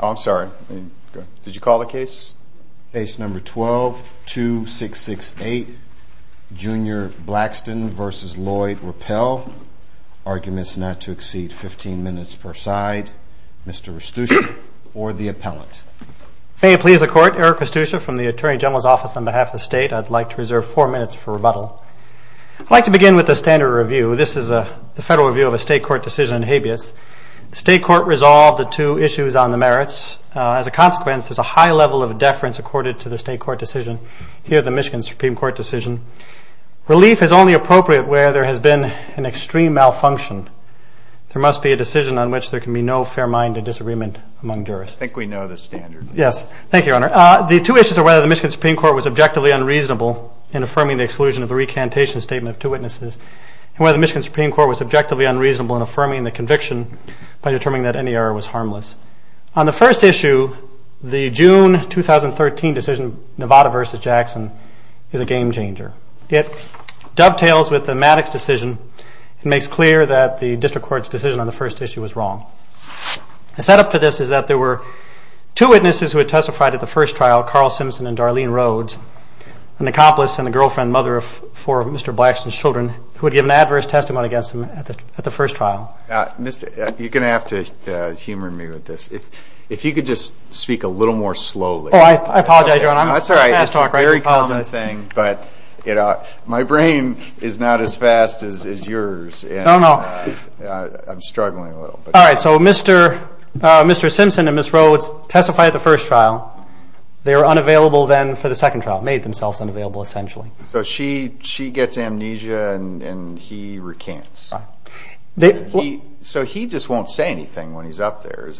I'm sorry, did you call the case? Base number 12-2668, Junior Blackston v. Lloyd Rapelje, arguments not to exceed 15 minutes per side. Mr. Pustusha, or the appellant. May it please the court, Eric Pustusha from the Attorney General's office on behalf of the state. I'd like to reserve four minutes for rebuttal. I'd like to begin with the standard review. This is the federal review of a state court decision in habeas. The state court resolved the two issues on the merits. As a consequence, there's a high level of deference accorded to the state court decision. Here, the Michigan Supreme Court decision. Relief is only appropriate where there has been an extreme malfunction. There must be a decision on which there can be no fair-minded disagreement among jurists. I think we know the standard. Yes, thank you, Your Honor. The two issues are whether the Michigan Supreme Court was objectively unreasonable in affirming the exclusion of the recantation statement of two witnesses, and whether the Michigan Supreme Court was objectively unreasonable in affirming the conviction by determining that any error was harmless. On the first issue, the June 2013 decision, Nevada v. Jackson, is a game changer. It dovetails with the Maddox decision and makes clear that the district court's decision on the first issue was wrong. The setup for this is that there were two witnesses who had testified at the first trial, Carl Simpson and Darlene Rhodes, an accomplice and the girlfriend and mother of four of Mr. Blackson's children, who had given an adverse testimony against him at the first trial. You're going to have to humor me with this. If you could just speak a little more slowly. Oh, I apologize, Your Honor. That's all right. It's a very common thing, but my brain is not as fast as yours. No, no. I'm struggling a little. All right, so Mr. Simpson and Ms. Rhodes testified at the first trial. They were unavailable then for the second trial, made themselves unavailable, essentially. So she gets amnesia and he recants. Right. So he just won't say anything when he's up there?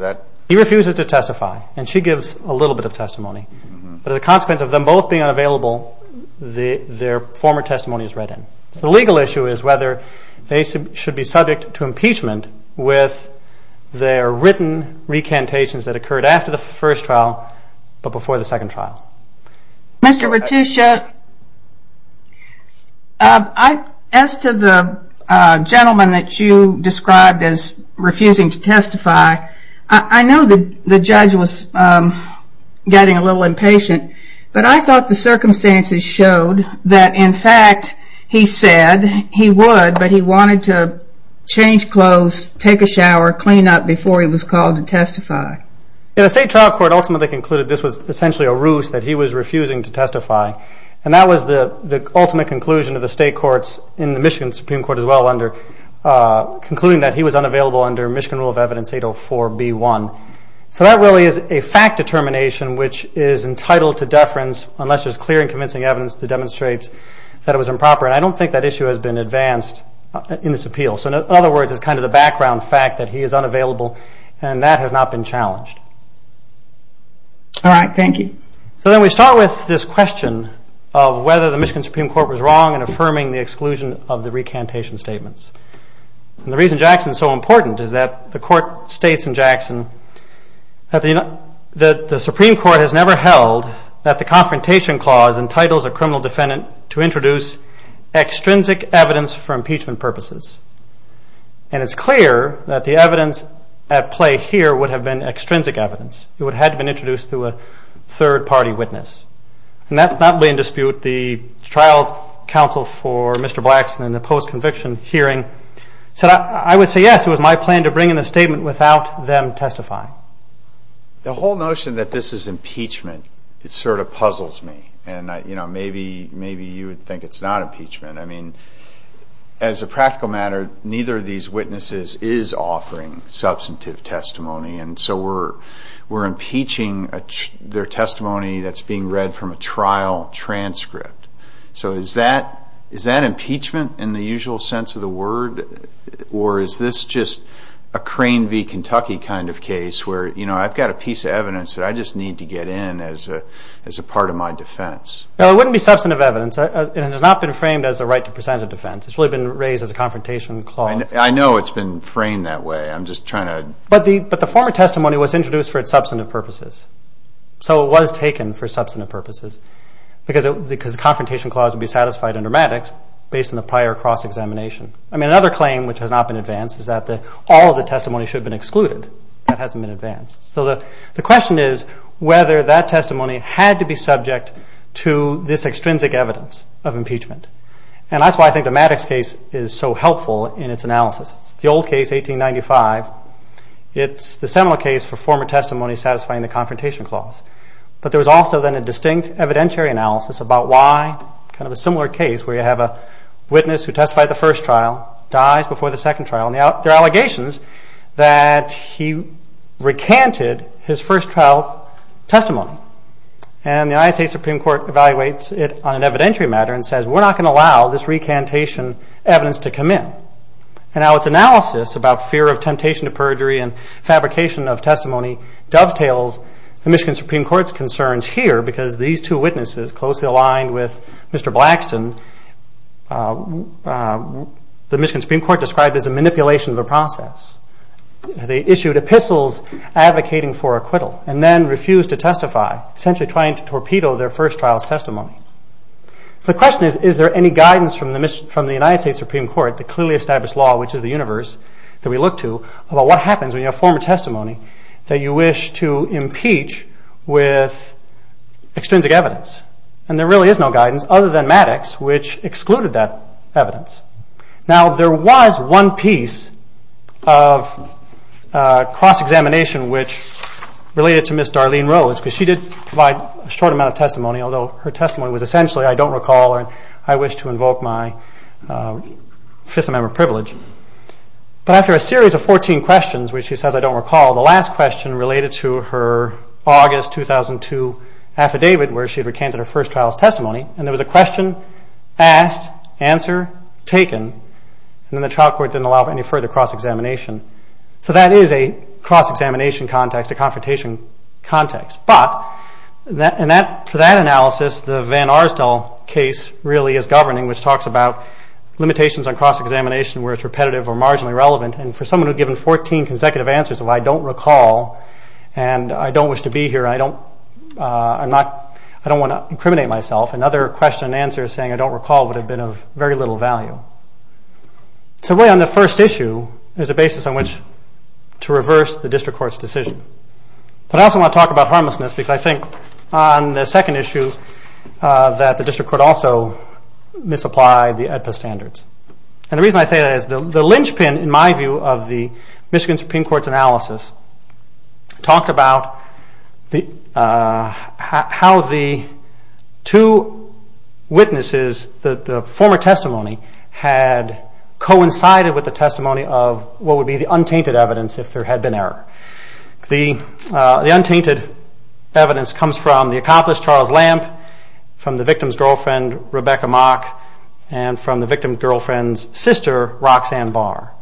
He refuses to testify, and she gives a little bit of testimony. But as a consequence of them both being unavailable, their former testimony is read in. The legal issue is whether they should be subject to impeachment with their written recantations that occurred after the first trial but before the second trial. Mr. Raticia, as to the gentleman that you described as refusing to testify, I know the judge was getting a little impatient, but I thought the circumstances showed that, in fact, he said he would, but he wanted to change clothes, take a shower, clean up before he was called to testify. The state trial court ultimately concluded this was essentially a ruse, that he was refusing to testify, and that was the ultimate conclusion of the state courts in the Michigan Supreme Court as well, concluding that he was unavailable under Michigan Rule of Evidence 804b-1. So that really is a fact determination which is entitled to deference unless there's clear and convincing evidence that demonstrates that it was improper, and I don't think that issue has been advanced in this appeal. So in other words, it's kind of the background fact that he is unavailable, and that has not been challenged. All right. Thank you. So then we start with this question of whether the Michigan Supreme Court was wrong in affirming the exclusion of the recantation statements. And the reason Jackson is so important is that the court states in Jackson that the Supreme Court has never held that the Confrontation Clause entitles a criminal defendant to introduce extrinsic evidence for impeachment purposes, and it's clear that the evidence at play here would have been extrinsic evidence. It had to have been introduced through a third-party witness, and that would not be in dispute. The trial counsel for Mr. Blackson in the post-conviction hearing said, I would say yes, it was my plan to bring in a statement without them testifying. The whole notion that this is impeachment, it sort of puzzles me, and maybe you would think it's not impeachment. I mean, as a practical matter, neither of these witnesses is offering substantive testimony, and so we're impeaching their testimony that's being read from a trial transcript. So is that impeachment in the usual sense of the word, or is this just a Crane v. Kentucky kind of case where I've got a piece of evidence that I just need to get in as a part of my defense? No, it wouldn't be substantive evidence, and it has not been framed as a right to presented defense. It's really been raised as a Confrontation Clause. I know it's been framed that way. But the former testimony was introduced for its substantive purposes, so it was taken for substantive purposes because the Confrontation Clause would be satisfied under Maddox based on the prior cross-examination. I mean, another claim which has not been advanced is that all of the testimony should have been excluded. That hasn't been advanced. So the question is whether that testimony had to be subject to this extrinsic evidence of impeachment, and that's why I think the Maddox case is so helpful in its analysis. It's the old case, 1895. It's the similar case for former testimony satisfying the Confrontation Clause. But there was also then a distinct evidentiary analysis about why kind of a similar case where you have a witness who testified the first trial, dies before the second trial, and there are allegations that he recanted his first trial testimony. And the United States Supreme Court evaluates it on an evidentiary matter and says, we're not going to allow this recantation evidence to come in. And now its analysis about fear of temptation to perjury and fabrication of testimony dovetails the Michigan Supreme Court's concerns here because these two witnesses closely aligned with Mr. Blackston, the Michigan Supreme Court described as a manipulation of the process. They issued epistles advocating for acquittal and then refused to testify, essentially trying to torpedo their first trial's testimony. So the question is, is there any guidance from the United States Supreme Court, the clearly established law which is the universe that we look to, about what happens when you have former testimony that you wish to impeach with extrinsic evidence? And there really is no guidance other than Maddox which excluded that evidence. Now there was one piece of cross-examination which related to Ms. Darlene Rose because she did provide a short amount of testimony, although her testimony was essentially I don't recall or I wish to invoke my Fifth Amendment privilege. But after a series of 14 questions where she says I don't recall, the last question related to her August 2002 affidavit where she recanted her first trial's testimony, and there was a question asked, answer taken, and then the trial court didn't allow for any further cross-examination. So that is a cross-examination context, a confrontation context. But for that analysis, the Van Arsdal case really is governing, which talks about limitations on cross-examination where it's repetitive or marginally relevant. And for someone who had given 14 consecutive answers of I don't recall and I don't wish to be here, I don't want to incriminate myself, another question and answer saying I don't recall would have been of very little value. So really on the first issue, there's a basis on which to reverse the district court's decision. But I also want to talk about harmlessness because I think on the second issue that the district court also misapplied the AEDPA standards. And the reason I say that is the linchpin, in my view, of the Michigan Supreme Court's analysis talked about how the two witnesses, the former testimony, had coincided with the testimony of what would be the untainted evidence if there had been error. The untainted evidence comes from the accomplished Charles Lamp, from the victim's girlfriend Rebecca Mock, and from the victim's girlfriend's sister Roxanne Barr.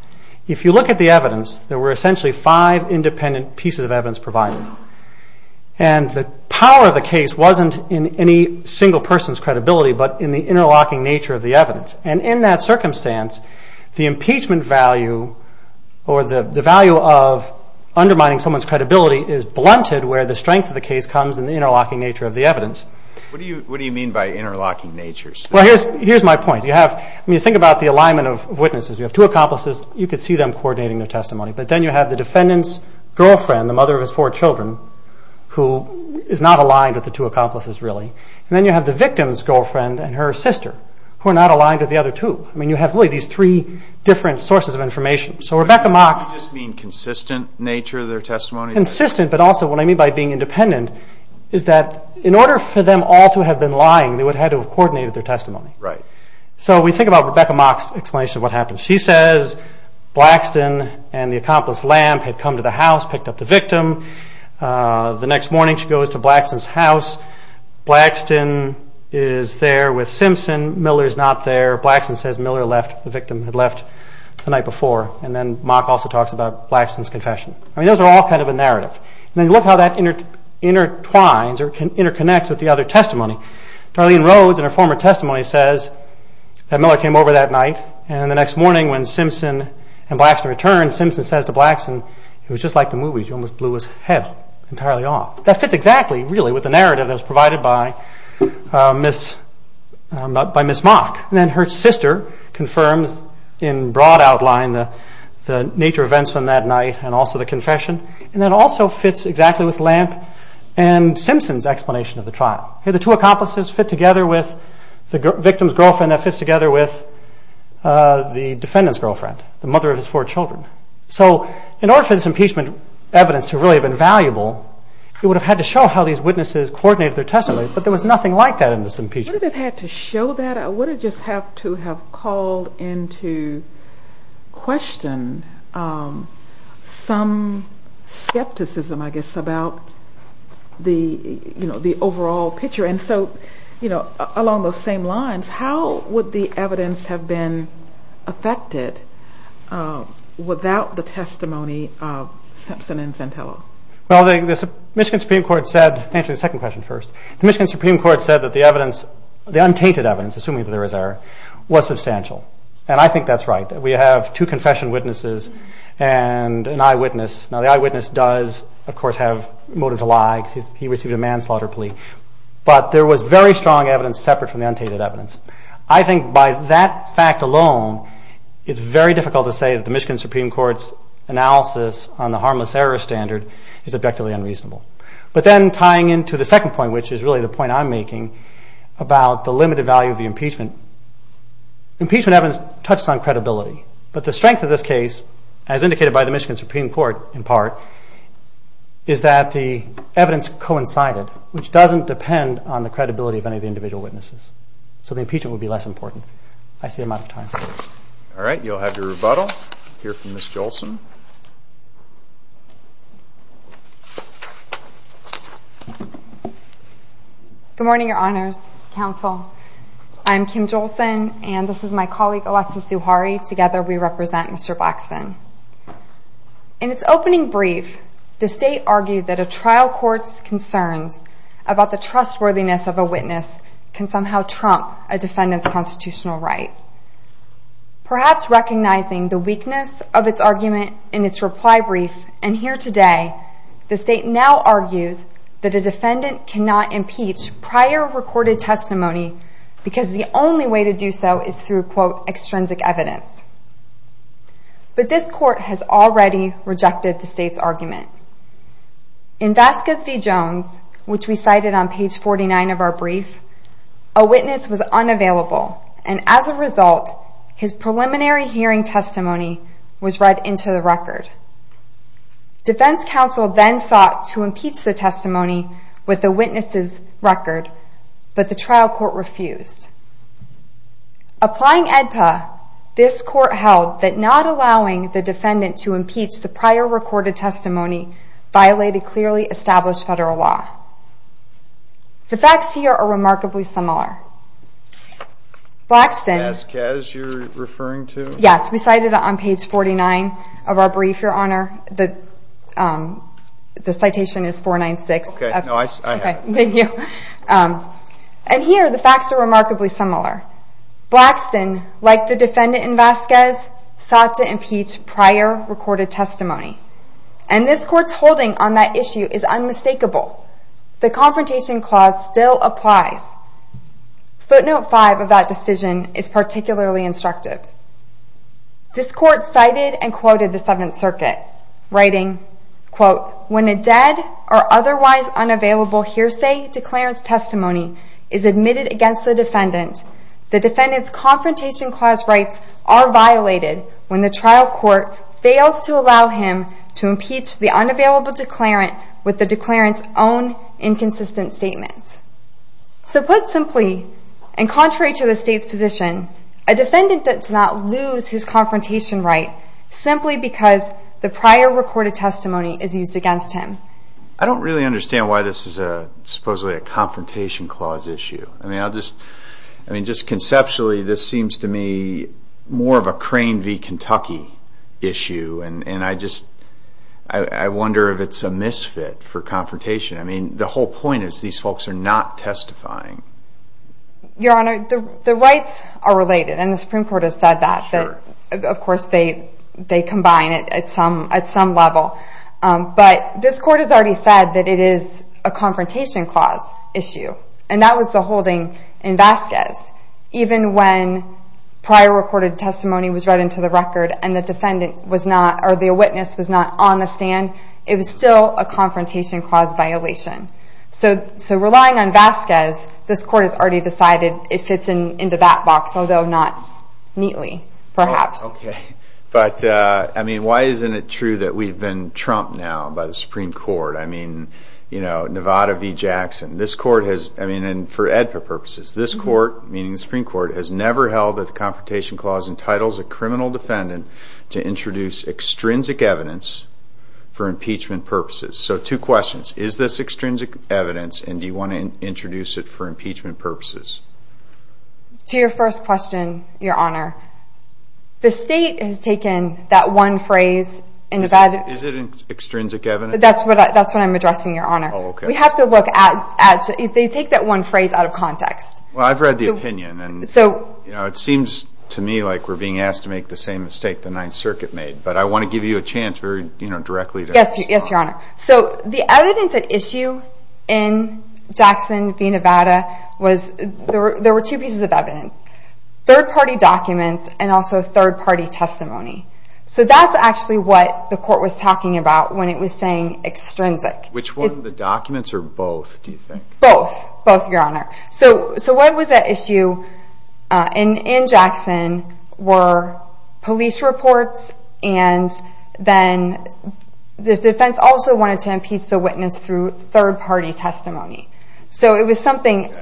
If you look at the evidence, there were essentially five independent pieces of evidence provided. And the power of the case wasn't in any single person's credibility but in the interlocking nature of the evidence. And in that circumstance, the impeachment value or the value of undermining someone's credibility is blunted where the strength of the case comes in the interlocking nature of the evidence. What do you mean by interlocking natures? Well, here's my point. When you think about the alignment of witnesses, you have two accomplices. You could see them coordinating their testimony. But then you have the defendant's girlfriend, the mother of his four children, who is not aligned with the two accomplices really. And then you have the victim's girlfriend and her sister, who are not aligned with the other two. I mean, you have really these three different sources of information. So Rebecca Mock... Do you just mean consistent nature of their testimony? Consistent, but also what I mean by being independent is that in order for them all to have been lying, they would have had to have coordinated their testimony. So we think about Rebecca Mock's explanation of what happened. She says Blackston and the accomplice Lamp had come to the house, picked up the victim. The next morning she goes to Blackston's house. Blackston is there with Simpson. Miller is not there. Blackston says Miller left. The victim had left the night before. And then Mock also talks about Blackston's confession. I mean, those are all kind of a narrative. And then you look how that intertwines or interconnects with the other testimony. Darlene Rhodes in her former testimony says that Miller came over that night. And the next morning when Simpson and Blackston returned, Simpson says to Blackston, it was just like the movies. You almost blew his head entirely off. That fits exactly, really, with the narrative that was provided by Miss Mock. And then her sister confirms in broad outline the nature of events from that night and also the confession. And that also fits exactly with Lamp and Simpson's explanation of the trial. The two accomplices fit together with the victim's girlfriend that fits together with the defendant's girlfriend, the mother of his four children. So in order for this impeachment evidence to really have been valuable, it would have had to show how these witnesses coordinated their testimony. But there was nothing like that in this impeachment. Would it have had to show that? Or would it just have to have called into question some skepticism, I guess, about the overall picture? And so along those same lines, how would the evidence have been affected without the testimony of Simpson and Centello? Well, the Michigan Supreme Court said – actually, the second question first. The Michigan Supreme Court said that the evidence, the untainted evidence, assuming that there was error, was substantial. And I think that's right. We have two confession witnesses and an eyewitness. Now, the eyewitness does, of course, have motive to lie because he received a manslaughter plea. But there was very strong evidence separate from the untainted evidence. I think by that fact alone, it's very difficult to say that the Michigan Supreme Court's analysis on the harmless error standard is objectively unreasonable. But then tying into the second point, which is really the point I'm making about the limited value of the impeachment, impeachment evidence touches on credibility. But the strength of this case, as indicated by the Michigan Supreme Court in part, is that the evidence coincided, which doesn't depend on the credibility of any of the individual witnesses. So the impeachment would be less important. I see I'm out of time. All right. You'll have your rebuttal. We'll hear from Ms. Jolson. Good morning, Your Honors, Counsel. I'm Kim Jolson, and this is my colleague, Alexa Suhari. Together, we represent Mr. Blackson. In its opening brief, the State argued that a trial court's concerns about the trustworthiness of a witness can somehow trump a defendant's constitutional right. Perhaps recognizing the weakness of its argument in its reply brief and here today, the State now argues that a defendant cannot impeach prior recorded testimony because the only way to do so is through, quote, But this court has already rejected the State's argument. In Vasquez v. Jones, which we cited on page 49 of our brief, a witness was unavailable, and as a result, his preliminary hearing testimony was read into the record. Defense counsel then sought to impeach the testimony with the witness's record, but the trial court refused. Applying AEDPA, this court held that not allowing the defendant to impeach the prior recorded testimony violated clearly established federal law. The facts here are remarkably similar. Blackson. Vasquez you're referring to? Yes. We cited it on page 49 of our brief, Your Honor. The citation is 496. Okay. No, I have it. Thank you. And here, the facts are remarkably similar. Blackson, like the defendant in Vasquez, sought to impeach prior recorded testimony, and this court's holding on that issue is unmistakable. The confrontation clause still applies. Footnote 5 of that decision is particularly instructive. This court cited and quoted the Seventh Circuit, writing, when a dead or otherwise unavailable hearsay declarant's testimony is admitted against the defendant, the defendant's confrontation clause rights are violated when the trial court fails to allow him to impeach the unavailable declarant with the declarant's own inconsistent statements. So put simply, and contrary to the state's position, a defendant does not lose his confrontation right simply because the prior recorded testimony is used against him. I don't really understand why this is supposedly a confrontation clause issue. I mean, just conceptually, this seems to me more of a Crane v. Kentucky issue, and I just wonder if it's a misfit for confrontation. I mean, the whole point is these folks are not testifying. Your Honor, the rights are related, and the Supreme Court has said that. Of course, they combine it at some level, but this court has already said that it is a confrontation clause issue, and that was the holding in Vasquez. Even when prior recorded testimony was read into the record and the witness was not on the stand, it was still a confrontation clause violation. So relying on Vasquez, this court has already decided it fits into that box, although not neatly, perhaps. Okay, but I mean, why isn't it true that we've been trumped now by the Supreme Court? I mean, Nevada v. Jackson. This court has, I mean, and for EDPA purposes, this court, meaning the Supreme Court, has never held that the confrontation clause entitles a criminal defendant to introduce extrinsic evidence for impeachment purposes. So two questions. Is this extrinsic evidence, and do you want to introduce it for impeachment purposes? To your first question, Your Honor, the state has taken that one phrase in Nevada. Is it extrinsic evidence? That's what I'm addressing, Your Honor. We have to look at, they take that one phrase out of context. Well, I've read the opinion, and it seems to me like we're being asked to make the same mistake the Ninth Circuit made, but I want to give you a chance, very directly. Yes, Your Honor. So the evidence at issue in Jackson v. Nevada was, there were two pieces of evidence, third-party documents and also third-party testimony. So that's actually what the court was talking about when it was saying extrinsic. Which one, the documents or both, do you think? Both, both, Your Honor. So what was at issue in Jackson were police reports, and then the defense also wanted to impeach the witness through third-party testimony. So it was something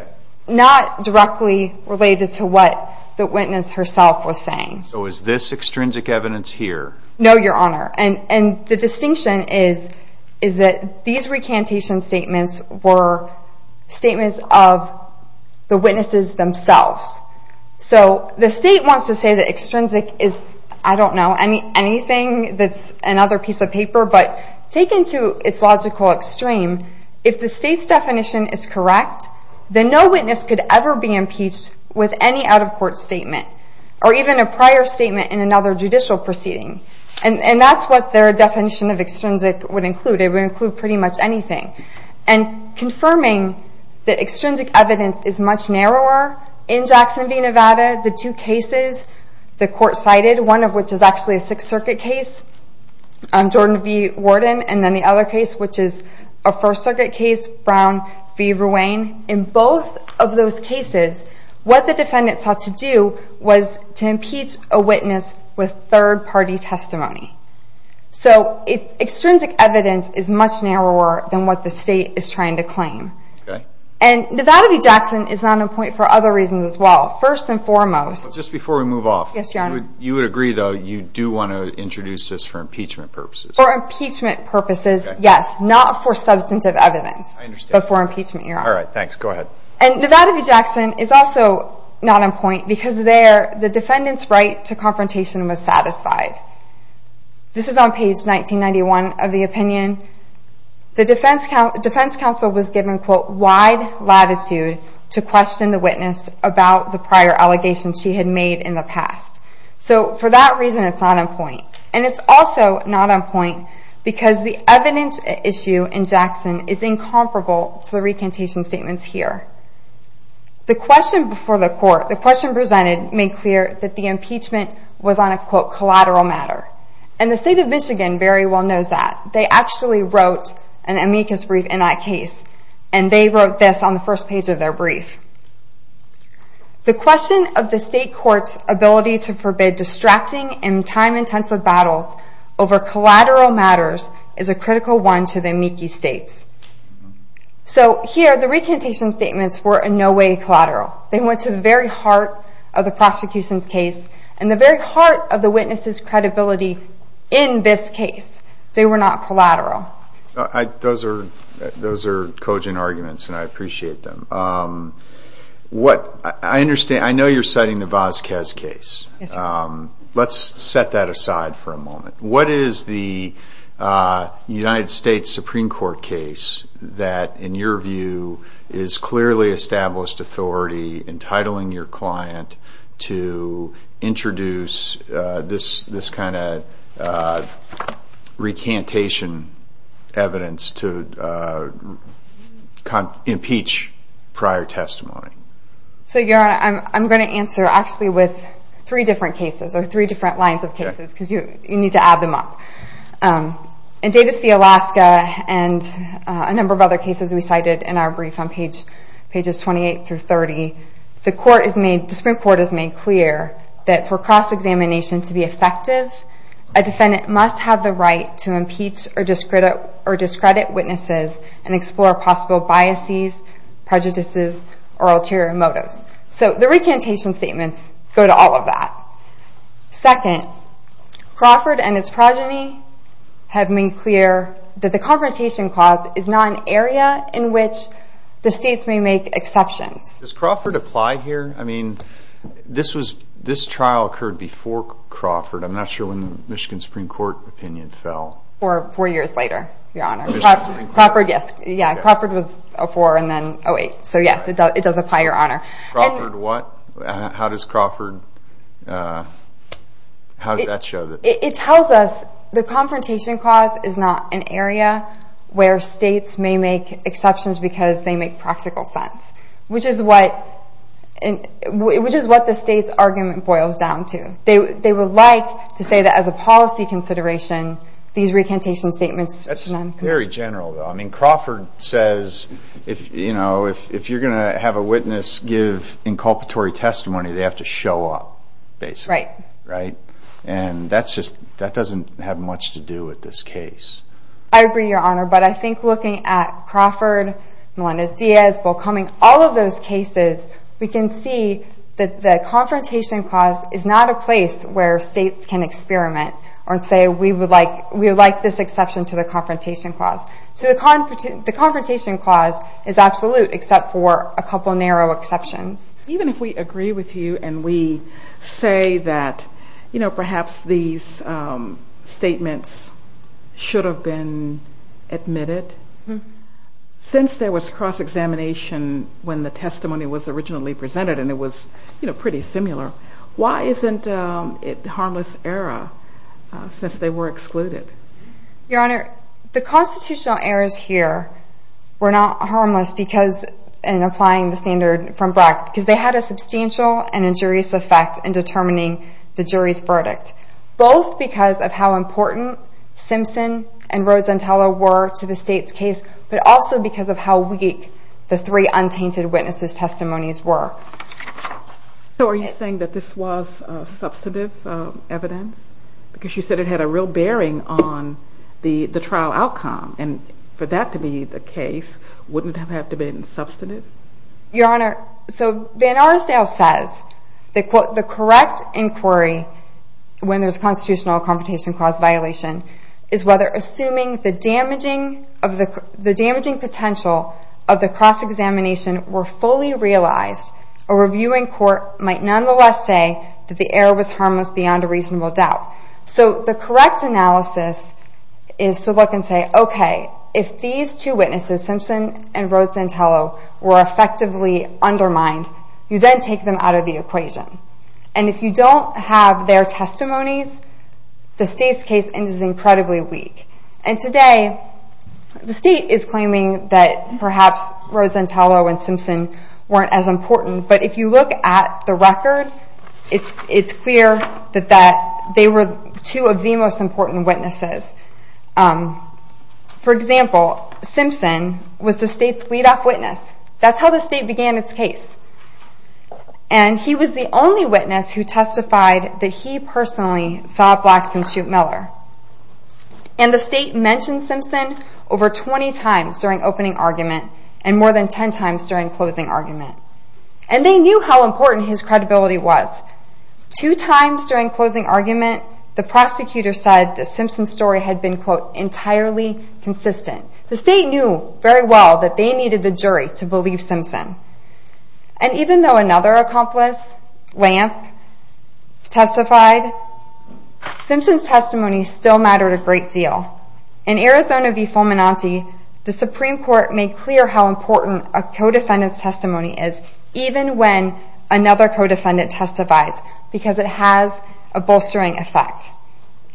not directly related to what the witness herself was saying. So is this extrinsic evidence here? No, Your Honor. And the distinction is that these recantation statements were statements of the witnesses themselves. So the state wants to say that extrinsic is, I don't know, anything that's another piece of paper, but taken to its logical extreme, if the state's definition is correct, then no witness could ever be impeached with any out-of-court statement or even a prior statement in another judicial proceeding. And that's what their definition of extrinsic would include. It would include pretty much anything. And confirming that extrinsic evidence is much narrower in Jackson v. Nevada, the two cases the court cited, one of which is actually a Sixth Circuit case, Jordan v. Worden, and then the other case, which is a First Circuit case, Brown v. Ruane, in both of those cases, what the defendants had to do was to impeach a witness with third-party testimony. So extrinsic evidence is much narrower than what the state is trying to claim. Okay. And Nevada v. Jackson is not a point for other reasons as well. First and foremost— Just before we move off— Yes, Your Honor. You would agree, though, you do want to introduce this for impeachment purposes. For impeachment purposes, yes, not for substantive evidence. I understand. But for impeachment, Your Honor. All right. Thanks. Go ahead. And Nevada v. Jackson is also not on point because there the defendant's right to confrontation was satisfied. This is on page 1991 of the opinion. The defense counsel was given, quote, wide latitude to question the witness about the prior allegations she had made in the past. So for that reason, it's not on point. And it's also not on point because the evidence issue in Jackson is incomparable to the recantation statements here. The question before the court, the question presented, made clear that the impeachment was on a, quote, collateral matter. And the state of Michigan very well knows that. They actually wrote an amicus brief in that case. And they wrote this on the first page of their brief. The question of the state court's ability to forbid distracting and time-intensive battles over collateral matters is a critical one to the amicus states. So here, the recantation statements were in no way collateral. They went to the very heart of the prosecution's case and the very heart of the witness's credibility in this case. They were not collateral. Those are cogent arguments, and I appreciate them. I know you're citing the Vazquez case. Let's set that aside for a moment. What is the United States Supreme Court case that, in your view, is clearly established authority, entitling your client to introduce this kind of recantation evidence to impeach prior testimony? So, Your Honor, I'm going to answer actually with three different cases or three different lines of cases because you need to add them up. In Davis v. Alaska and a number of other cases we cited in our brief on pages 28 through 30, the Supreme Court has made clear that for cross-examination to be effective, a defendant must have the right to impeach or discredit witnesses and explore possible biases, prejudices, or ulterior motives. So the recantation statements go to all of that. Second, Crawford and its progeny have made clear that the confrontation clause is not an area in which the states may make exceptions. Does Crawford apply here? I mean, this trial occurred before Crawford. I'm not sure when the Michigan Supreme Court opinion fell. Four years later, Your Honor. Crawford, yes. Crawford was 04 and then 08. So, yes, it does apply, Your Honor. Crawford what? How does Crawford, how does that show that? It tells us the confrontation clause is not an area where states may make exceptions because they make practical sense, which is what the state's argument boils down to. They would like to say that as a policy consideration these recantation statements. That's very general, though. And Crawford says, you know, if you're going to have a witness give inculpatory testimony, they have to show up, basically. Right. Right? And that's just, that doesn't have much to do with this case. I agree, Your Honor. But I think looking at Crawford, Melendez-Diaz, Bolkoming, all of those cases, we can see that the confrontation clause is not a place where states can experiment and say we would like this exception to the confrontation clause. So the confrontation clause is absolute except for a couple of narrow exceptions. Even if we agree with you and we say that, you know, perhaps these statements should have been admitted, since there was cross-examination when the testimony was originally presented and it was, you know, pretty similar, why isn't it harmless error since they were excluded? Your Honor, the constitutional errors here were not harmless because in applying the standard from BRAC, because they had a substantial and injurious effect in determining the jury's verdict, both because of how important Simpson and Rosenthaler were to the state's case, but also because of how weak the three untainted witnesses' testimonies were. So are you saying that this was substantive evidence? Because you said it had a real bearing on the trial outcome, and for that to be the case, wouldn't it have to have been substantive? Your Honor, so Van Arsdale says the correct inquiry when there's constitutional confrontation clause violation is whether assuming the damaging potential of the cross-examination were fully realized, a reviewing court might nonetheless say that the error was harmless beyond a reasonable doubt. So the correct analysis is to look and say, okay, if these two witnesses, Simpson and Rosenthaler, were effectively undermined, you then take them out of the equation. And if you don't have their testimonies, the state's case is incredibly weak. And today, the state is claiming that perhaps Rosenthaler and Simpson weren't as important, but if you look at the record, it's clear that they were two of the most important witnesses. For example, Simpson was the state's lead-off witness. That's how the state began its case. And he was the only witness who testified that he personally saw Blackson shoot Miller. And the state mentioned Simpson over 20 times during opening argument and more than 10 times during closing argument. And they knew how important his credibility was. Two times during closing argument, the prosecutor said that Simpson's story had been, quote, entirely consistent. The state knew very well that they needed the jury to believe Simpson. And even though another accomplice, Lamp, testified, Simpson's testimony still mattered a great deal. In Arizona v. Fulminante, the Supreme Court made clear how important a co-defendant's testimony is, even when another co-defendant testifies, because it has a bolstering effect.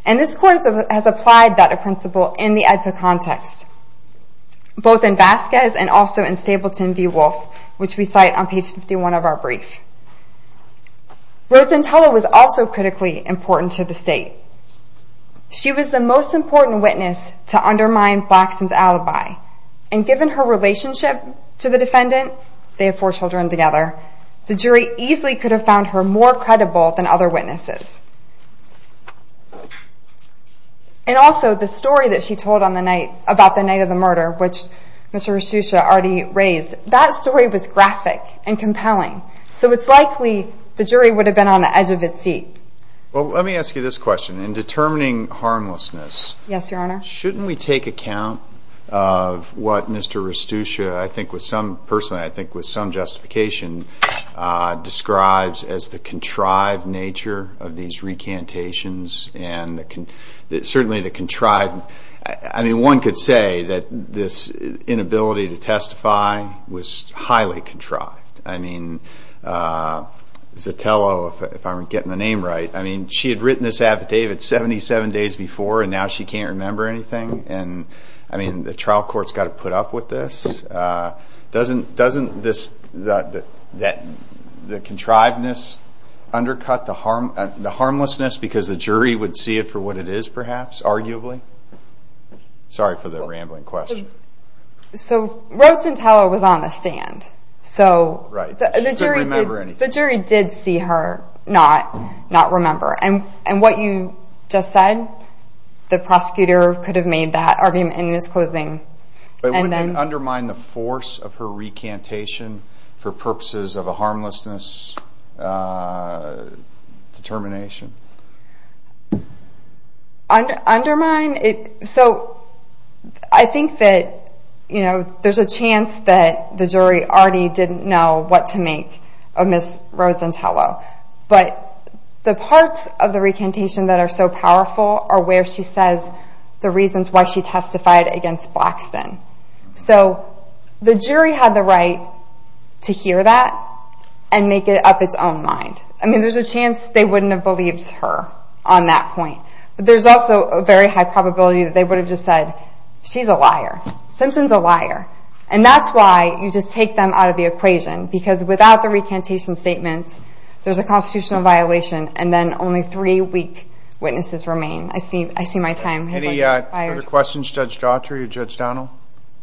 And this Court has applied that principle in the AEDPA context, both in Vasquez and also in Stapleton v. Wolfe, which we cite on page 51 of our brief. Rosenthal was also critically important to the state. She was the most important witness to undermine Blackson's alibi. And given her relationship to the defendant, they have four children together, the jury easily could have found her more credible than other witnesses. And also, the story that she told on the night, about the night of the murder, which Mr. Restucia already raised, that story was graphic and compelling. So it's likely the jury would have been on the edge of its seat. Well, let me ask you this question. In determining harmlessness, shouldn't we take account of what Mr. Restucia, I think with some person, I think with some justification, describes as the contrived nature of these recantations, and certainly the contrived... I mean, one could say that this inability to testify was highly contrived. I mean, Zatello, if I'm getting the name right, I mean, she had written this affidavit 77 days before, and now she can't remember anything? And, I mean, the trial court's got to put up with this? Doesn't the contrivedness undercut the harmlessness because the jury would see it for what it is, perhaps, arguably? Sorry for the rambling question. So, Rhoades and Teller was on the stand. Right. She couldn't remember anything. The jury did see her not remember. And what you just said, the prosecutor could have made that argument in his closing. But wouldn't it undermine the force of her recantation for purposes of a harmlessness determination? Undermine? So, I think that there's a chance that the jury already didn't know what to make of Ms. Rhoades and Teller. But the parts of the recantation that are so powerful are where she says the reasons why she testified against Blackston. So, the jury had the right to hear that and make it up its own mind. I mean, there's a chance they wouldn't have believed her on that point. But there's also a very high probability that they would have just said, she's a liar. Simpson's a liar. And that's why you just take them out of the equation. Because without the recantation statements, there's a constitutional violation, and then only three-week witnesses remain. I see my time has expired. Any further questions, Judge Daughtry or Judge Donnell?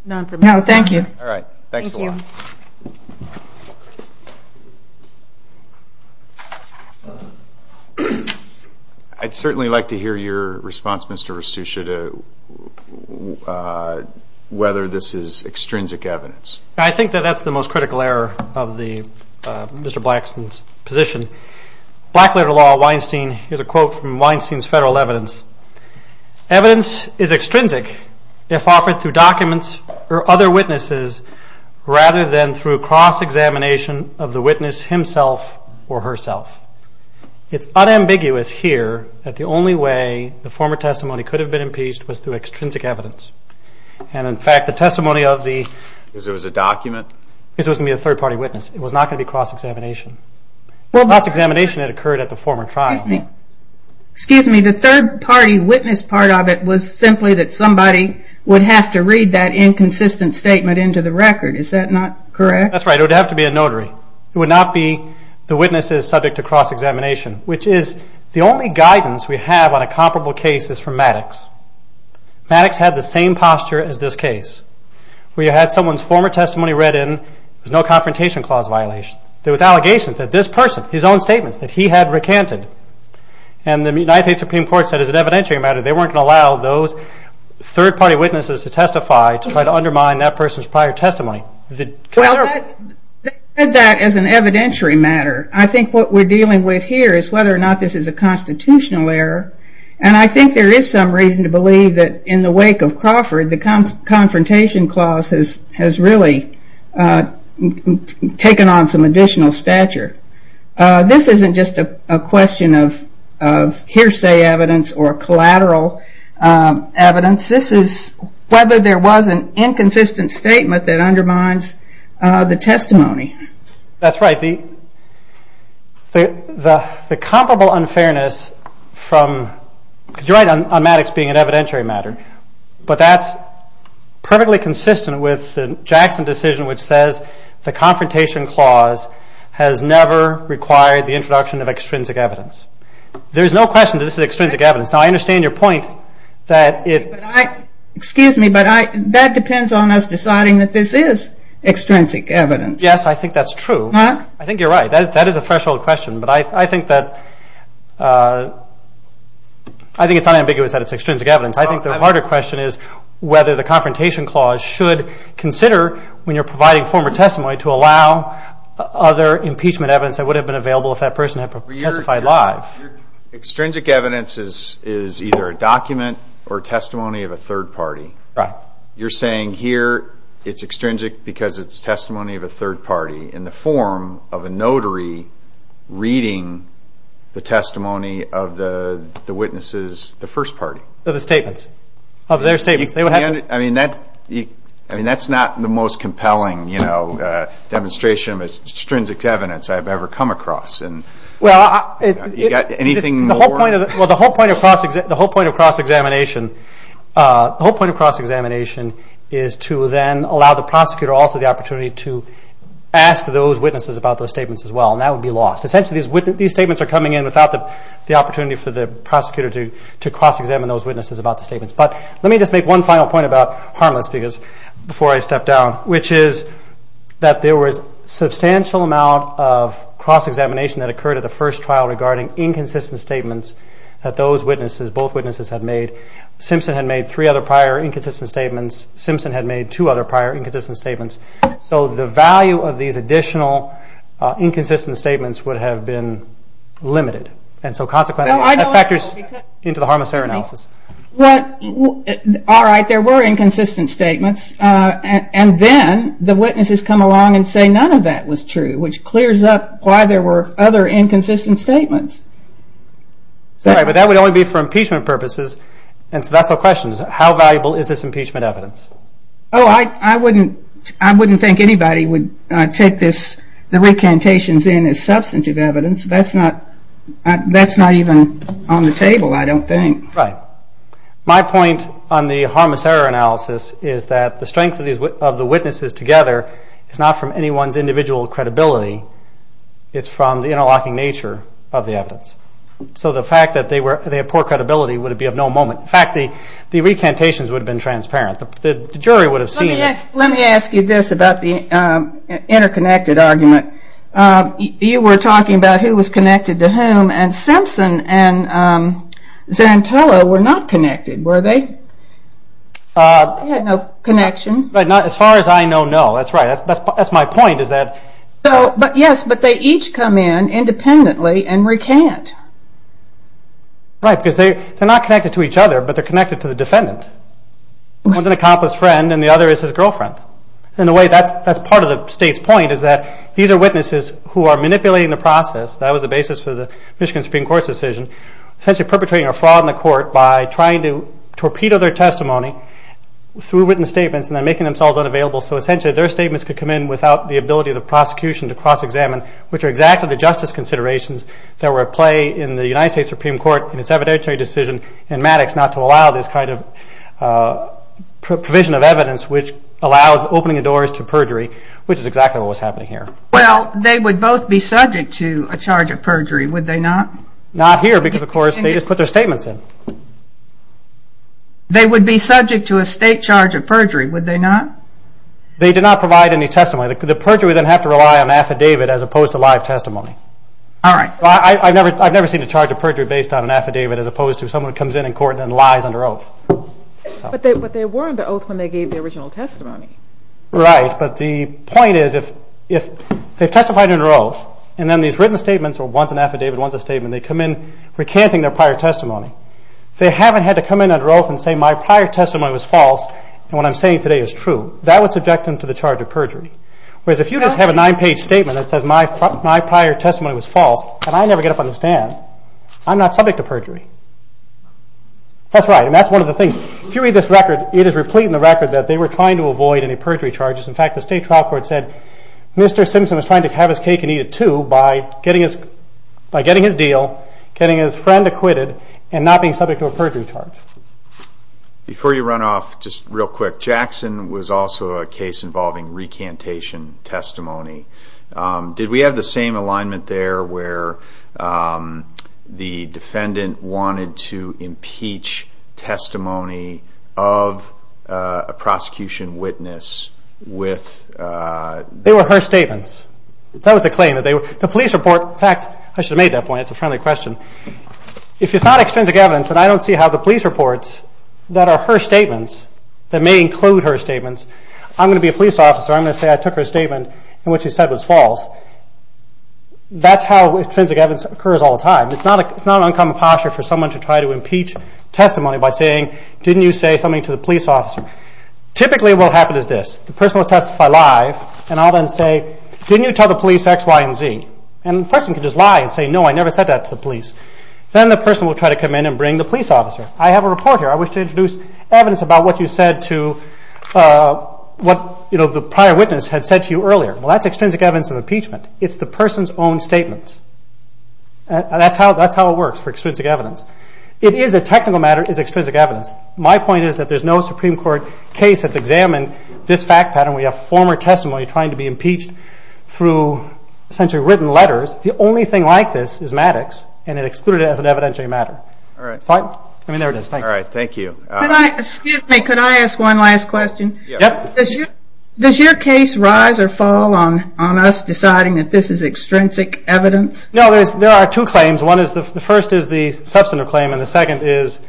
None for me. No, thank you. All right. Thanks a lot. Thank you. I'd certainly like to hear your response, Mr. Rasuccia, to whether this is extrinsic evidence. I think that that's the most critical error of Mr. Blackston's position. Blackletter law, Weinstein, here's a quote from Weinstein's federal evidence. Evidence is extrinsic if offered through documents or other witnesses rather than through cross-examination of the witness himself or herself. It's unambiguous here that the only way the former testimony could have been impeached was through extrinsic evidence. And, in fact, the testimony of the… Because it was a document? Because it was going to be a third-party witness. It was not going to be cross-examination. Cross-examination had occurred at the former trial. Excuse me. The third-party witness part of it was simply that somebody would have to read that inconsistent statement into the record. Is that not correct? That's right. It would have to be a notary. It would not be the witnesses subject to cross-examination, which is the only guidance we have on a comparable case is from Maddox. Maddox had the same posture as this case, where you had someone's former testimony read in. There was no Confrontation Clause violation. There was allegations that this person, his own statements that he had recanted. And the United States Supreme Court said as an evidentiary matter they weren't going to allow those third-party witnesses to testify to try to undermine that person's prior testimony. Well, they said that as an evidentiary matter. I think what we're dealing with here is whether or not this is a constitutional error. The Confrontation Clause has really taken on some additional stature. This isn't just a question of hearsay evidence or collateral evidence. This is whether there was an inconsistent statement that undermines the testimony. That's right. The comparable unfairness from, because you're right on Maddox being an evidentiary matter, but that's perfectly consistent with the Jackson decision, which says the Confrontation Clause has never required the introduction of extrinsic evidence. There's no question that this is extrinsic evidence. Now, I understand your point that it's... Excuse me, but that depends on us deciding that this is extrinsic evidence. Yes, I think that's true. I think you're right. That is a threshold question, but I think it's unambiguous that it's extrinsic evidence. I think the harder question is whether the Confrontation Clause should consider, when you're providing former testimony, to allow other impeachment evidence that would have been available if that person had testified live. Extrinsic evidence is either a document or testimony of a third party. Right. You're saying here it's extrinsic because it's testimony of a third party in the form of a notary reading the testimony of the witnesses, the first party. Of the statements, of their statements. I mean, that's not the most compelling demonstration of extrinsic evidence I've ever come across. Well, the whole point of cross-examination is to then allow the prosecutor also the opportunity to ask those witnesses about those statements as well, and that would be lost. Essentially, these statements are coming in without the opportunity for the prosecutor to cross-examine those witnesses about the statements. But let me just make one final point about harmless, before I step down, which is that there was a substantial amount of cross-examination that occurred at the first trial regarding inconsistent statements that those witnesses, both witnesses, had made. Simpson had made three other prior inconsistent statements. Simpson had made two other prior inconsistent statements. So the value of these additional inconsistent statements would have been limited. And so consequently, that factors into the harmless error analysis. All right, there were inconsistent statements. And then the witnesses come along and say none of that was true, which clears up why there were other inconsistent statements. All right, but that would only be for impeachment purposes. And so that's the question. How valuable is this impeachment evidence? Oh, I wouldn't think anybody would take the recantations in as substantive evidence. That's not even on the table, I don't think. Right. My point on the harmless error analysis is that the strength of the witnesses together is not from anyone's individual credibility. It's from the interlocking nature of the evidence. So the fact that they have poor credibility would be of no moment. In fact, the recantations would have been transparent. The jury would have seen it. Let me ask you this about the interconnected argument. You were talking about who was connected to whom, and Simpson and Zantello were not connected, were they? They had no connection. As far as I know, no. That's right. That's my point. Yes, but they each come in independently and recant. Right, because they're not connected to each other, but they're connected to the defendant. One's an accomplice friend, and the other is his girlfriend. That's part of the state's point is that these are witnesses who are manipulating the process. That was the basis for the Michigan Supreme Court's decision, essentially perpetrating a fraud in the court by trying to torpedo their testimony through written statements and then making themselves unavailable. So essentially their statements could come in without the ability of the prosecution to cross-examine, which are exactly the justice considerations that were at play in the United States Supreme Court in its evidentiary decision in Maddox not to allow this kind of provision of evidence which allows opening the doors to perjury, which is exactly what was happening here. Well, they would both be subject to a charge of perjury, would they not? Not here because, of course, they just put their statements in. They would be subject to a state charge of perjury, would they not? They did not provide any testimony. The perjury would then have to rely on an affidavit as opposed to live testimony. All right. I've never seen a charge of perjury based on an affidavit as opposed to someone comes in in court and then lies under oath. But they were under oath when they gave the original testimony. Right, but the point is if they've testified under oath and then these written statements or once an affidavit, once a statement, they come in recanting their prior testimony. If they haven't had to come in under oath and say my prior testimony was false and what I'm saying today is true, that would subject them to the charge of perjury. Whereas if you just have a nine-page statement that says my prior testimony was false and I never get up on the stand, I'm not subject to perjury. That's right, and that's one of the things. If you read this record, it is replete in the record that they were trying to avoid any perjury charges. In fact, the state trial court said Mr. Simpson was trying to have his cake and eat it too by getting his deal, getting his friend acquitted, and not being subject to a perjury charge. Before you run off, just real quick, Jackson was also a case involving recantation testimony. Did we have the same alignment there where the defendant wanted to impeach testimony of a prosecution witness with... They were her statements. That was the claim. The police report, in fact, I should have made that point. It's a friendly question. If it's not extrinsic evidence and I don't see how the police reports that are her statements, that may include her statements, I'm going to be a police officer. I'm going to say I took her statement and what she said was false. That's how extrinsic evidence occurs all the time. It's not an uncommon posture for someone to try to impeach testimony by saying, didn't you say something to the police officer? Typically what will happen is this. The person will testify live and I'll then say, didn't you tell the police X, Y, and Z? And the person can just lie and say, no, I never said that to the police. Then the person will try to come in and bring the police officer. I have a report here. I wish to introduce evidence about what you said to what the prior witness had said to you earlier. Well, that's extrinsic evidence of impeachment. It's the person's own statements. That's how it works for extrinsic evidence. It is a technical matter. It is extrinsic evidence. My point is that there's no Supreme Court case that's examined this fact pattern where you have former testimony trying to be impeached through essentially written letters. The only thing like this is Maddox and it excluded it as an evidentiary matter. All right, thank you. Excuse me, could I ask one last question? Does your case rise or fall on us deciding that this is extrinsic evidence? No, there are two claims. One is the first is the substantive claim and the second is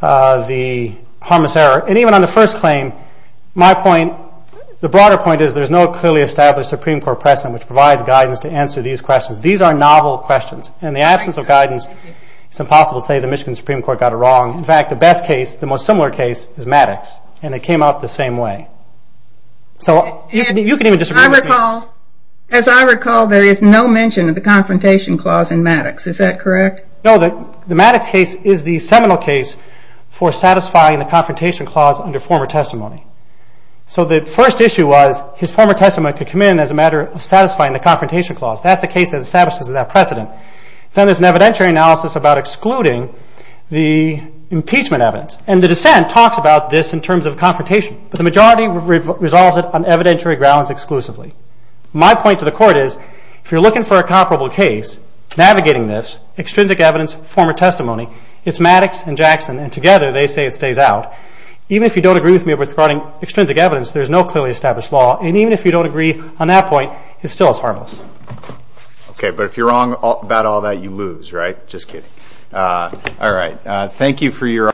the harmless error. Even on the first claim, my point, the broader point is there's no clearly established Supreme Court precedent which provides guidance to answer these questions. These are novel questions. In the absence of guidance, it's impossible to say the Michigan Supreme Court got it wrong. In fact, the best case, the most similar case is Maddox, and it came out the same way. So you can even disagree with me. As I recall, there is no mention of the confrontation clause in Maddox. Is that correct? No, the Maddox case is the seminal case for satisfying the confrontation clause under former testimony. So the first issue was his former testimony could come in as a matter of satisfying the confrontation clause. That's the case that establishes that precedent. Then there's an evidentiary analysis about excluding the impeachment evidence, and the dissent talks about this in terms of confrontation, but the majority resolves it on evidentiary grounds exclusively. My point to the Court is if you're looking for a comparable case, navigating this, extrinsic evidence, former testimony, it's Maddox and Jackson, and together they say it stays out. Even if you don't agree with me regarding extrinsic evidence, there's no clearly established law, and even if you don't agree on that point, it still is harmless. Okay, but if you're wrong about all that, you lose, right? Just kidding. All right. Thank you for your...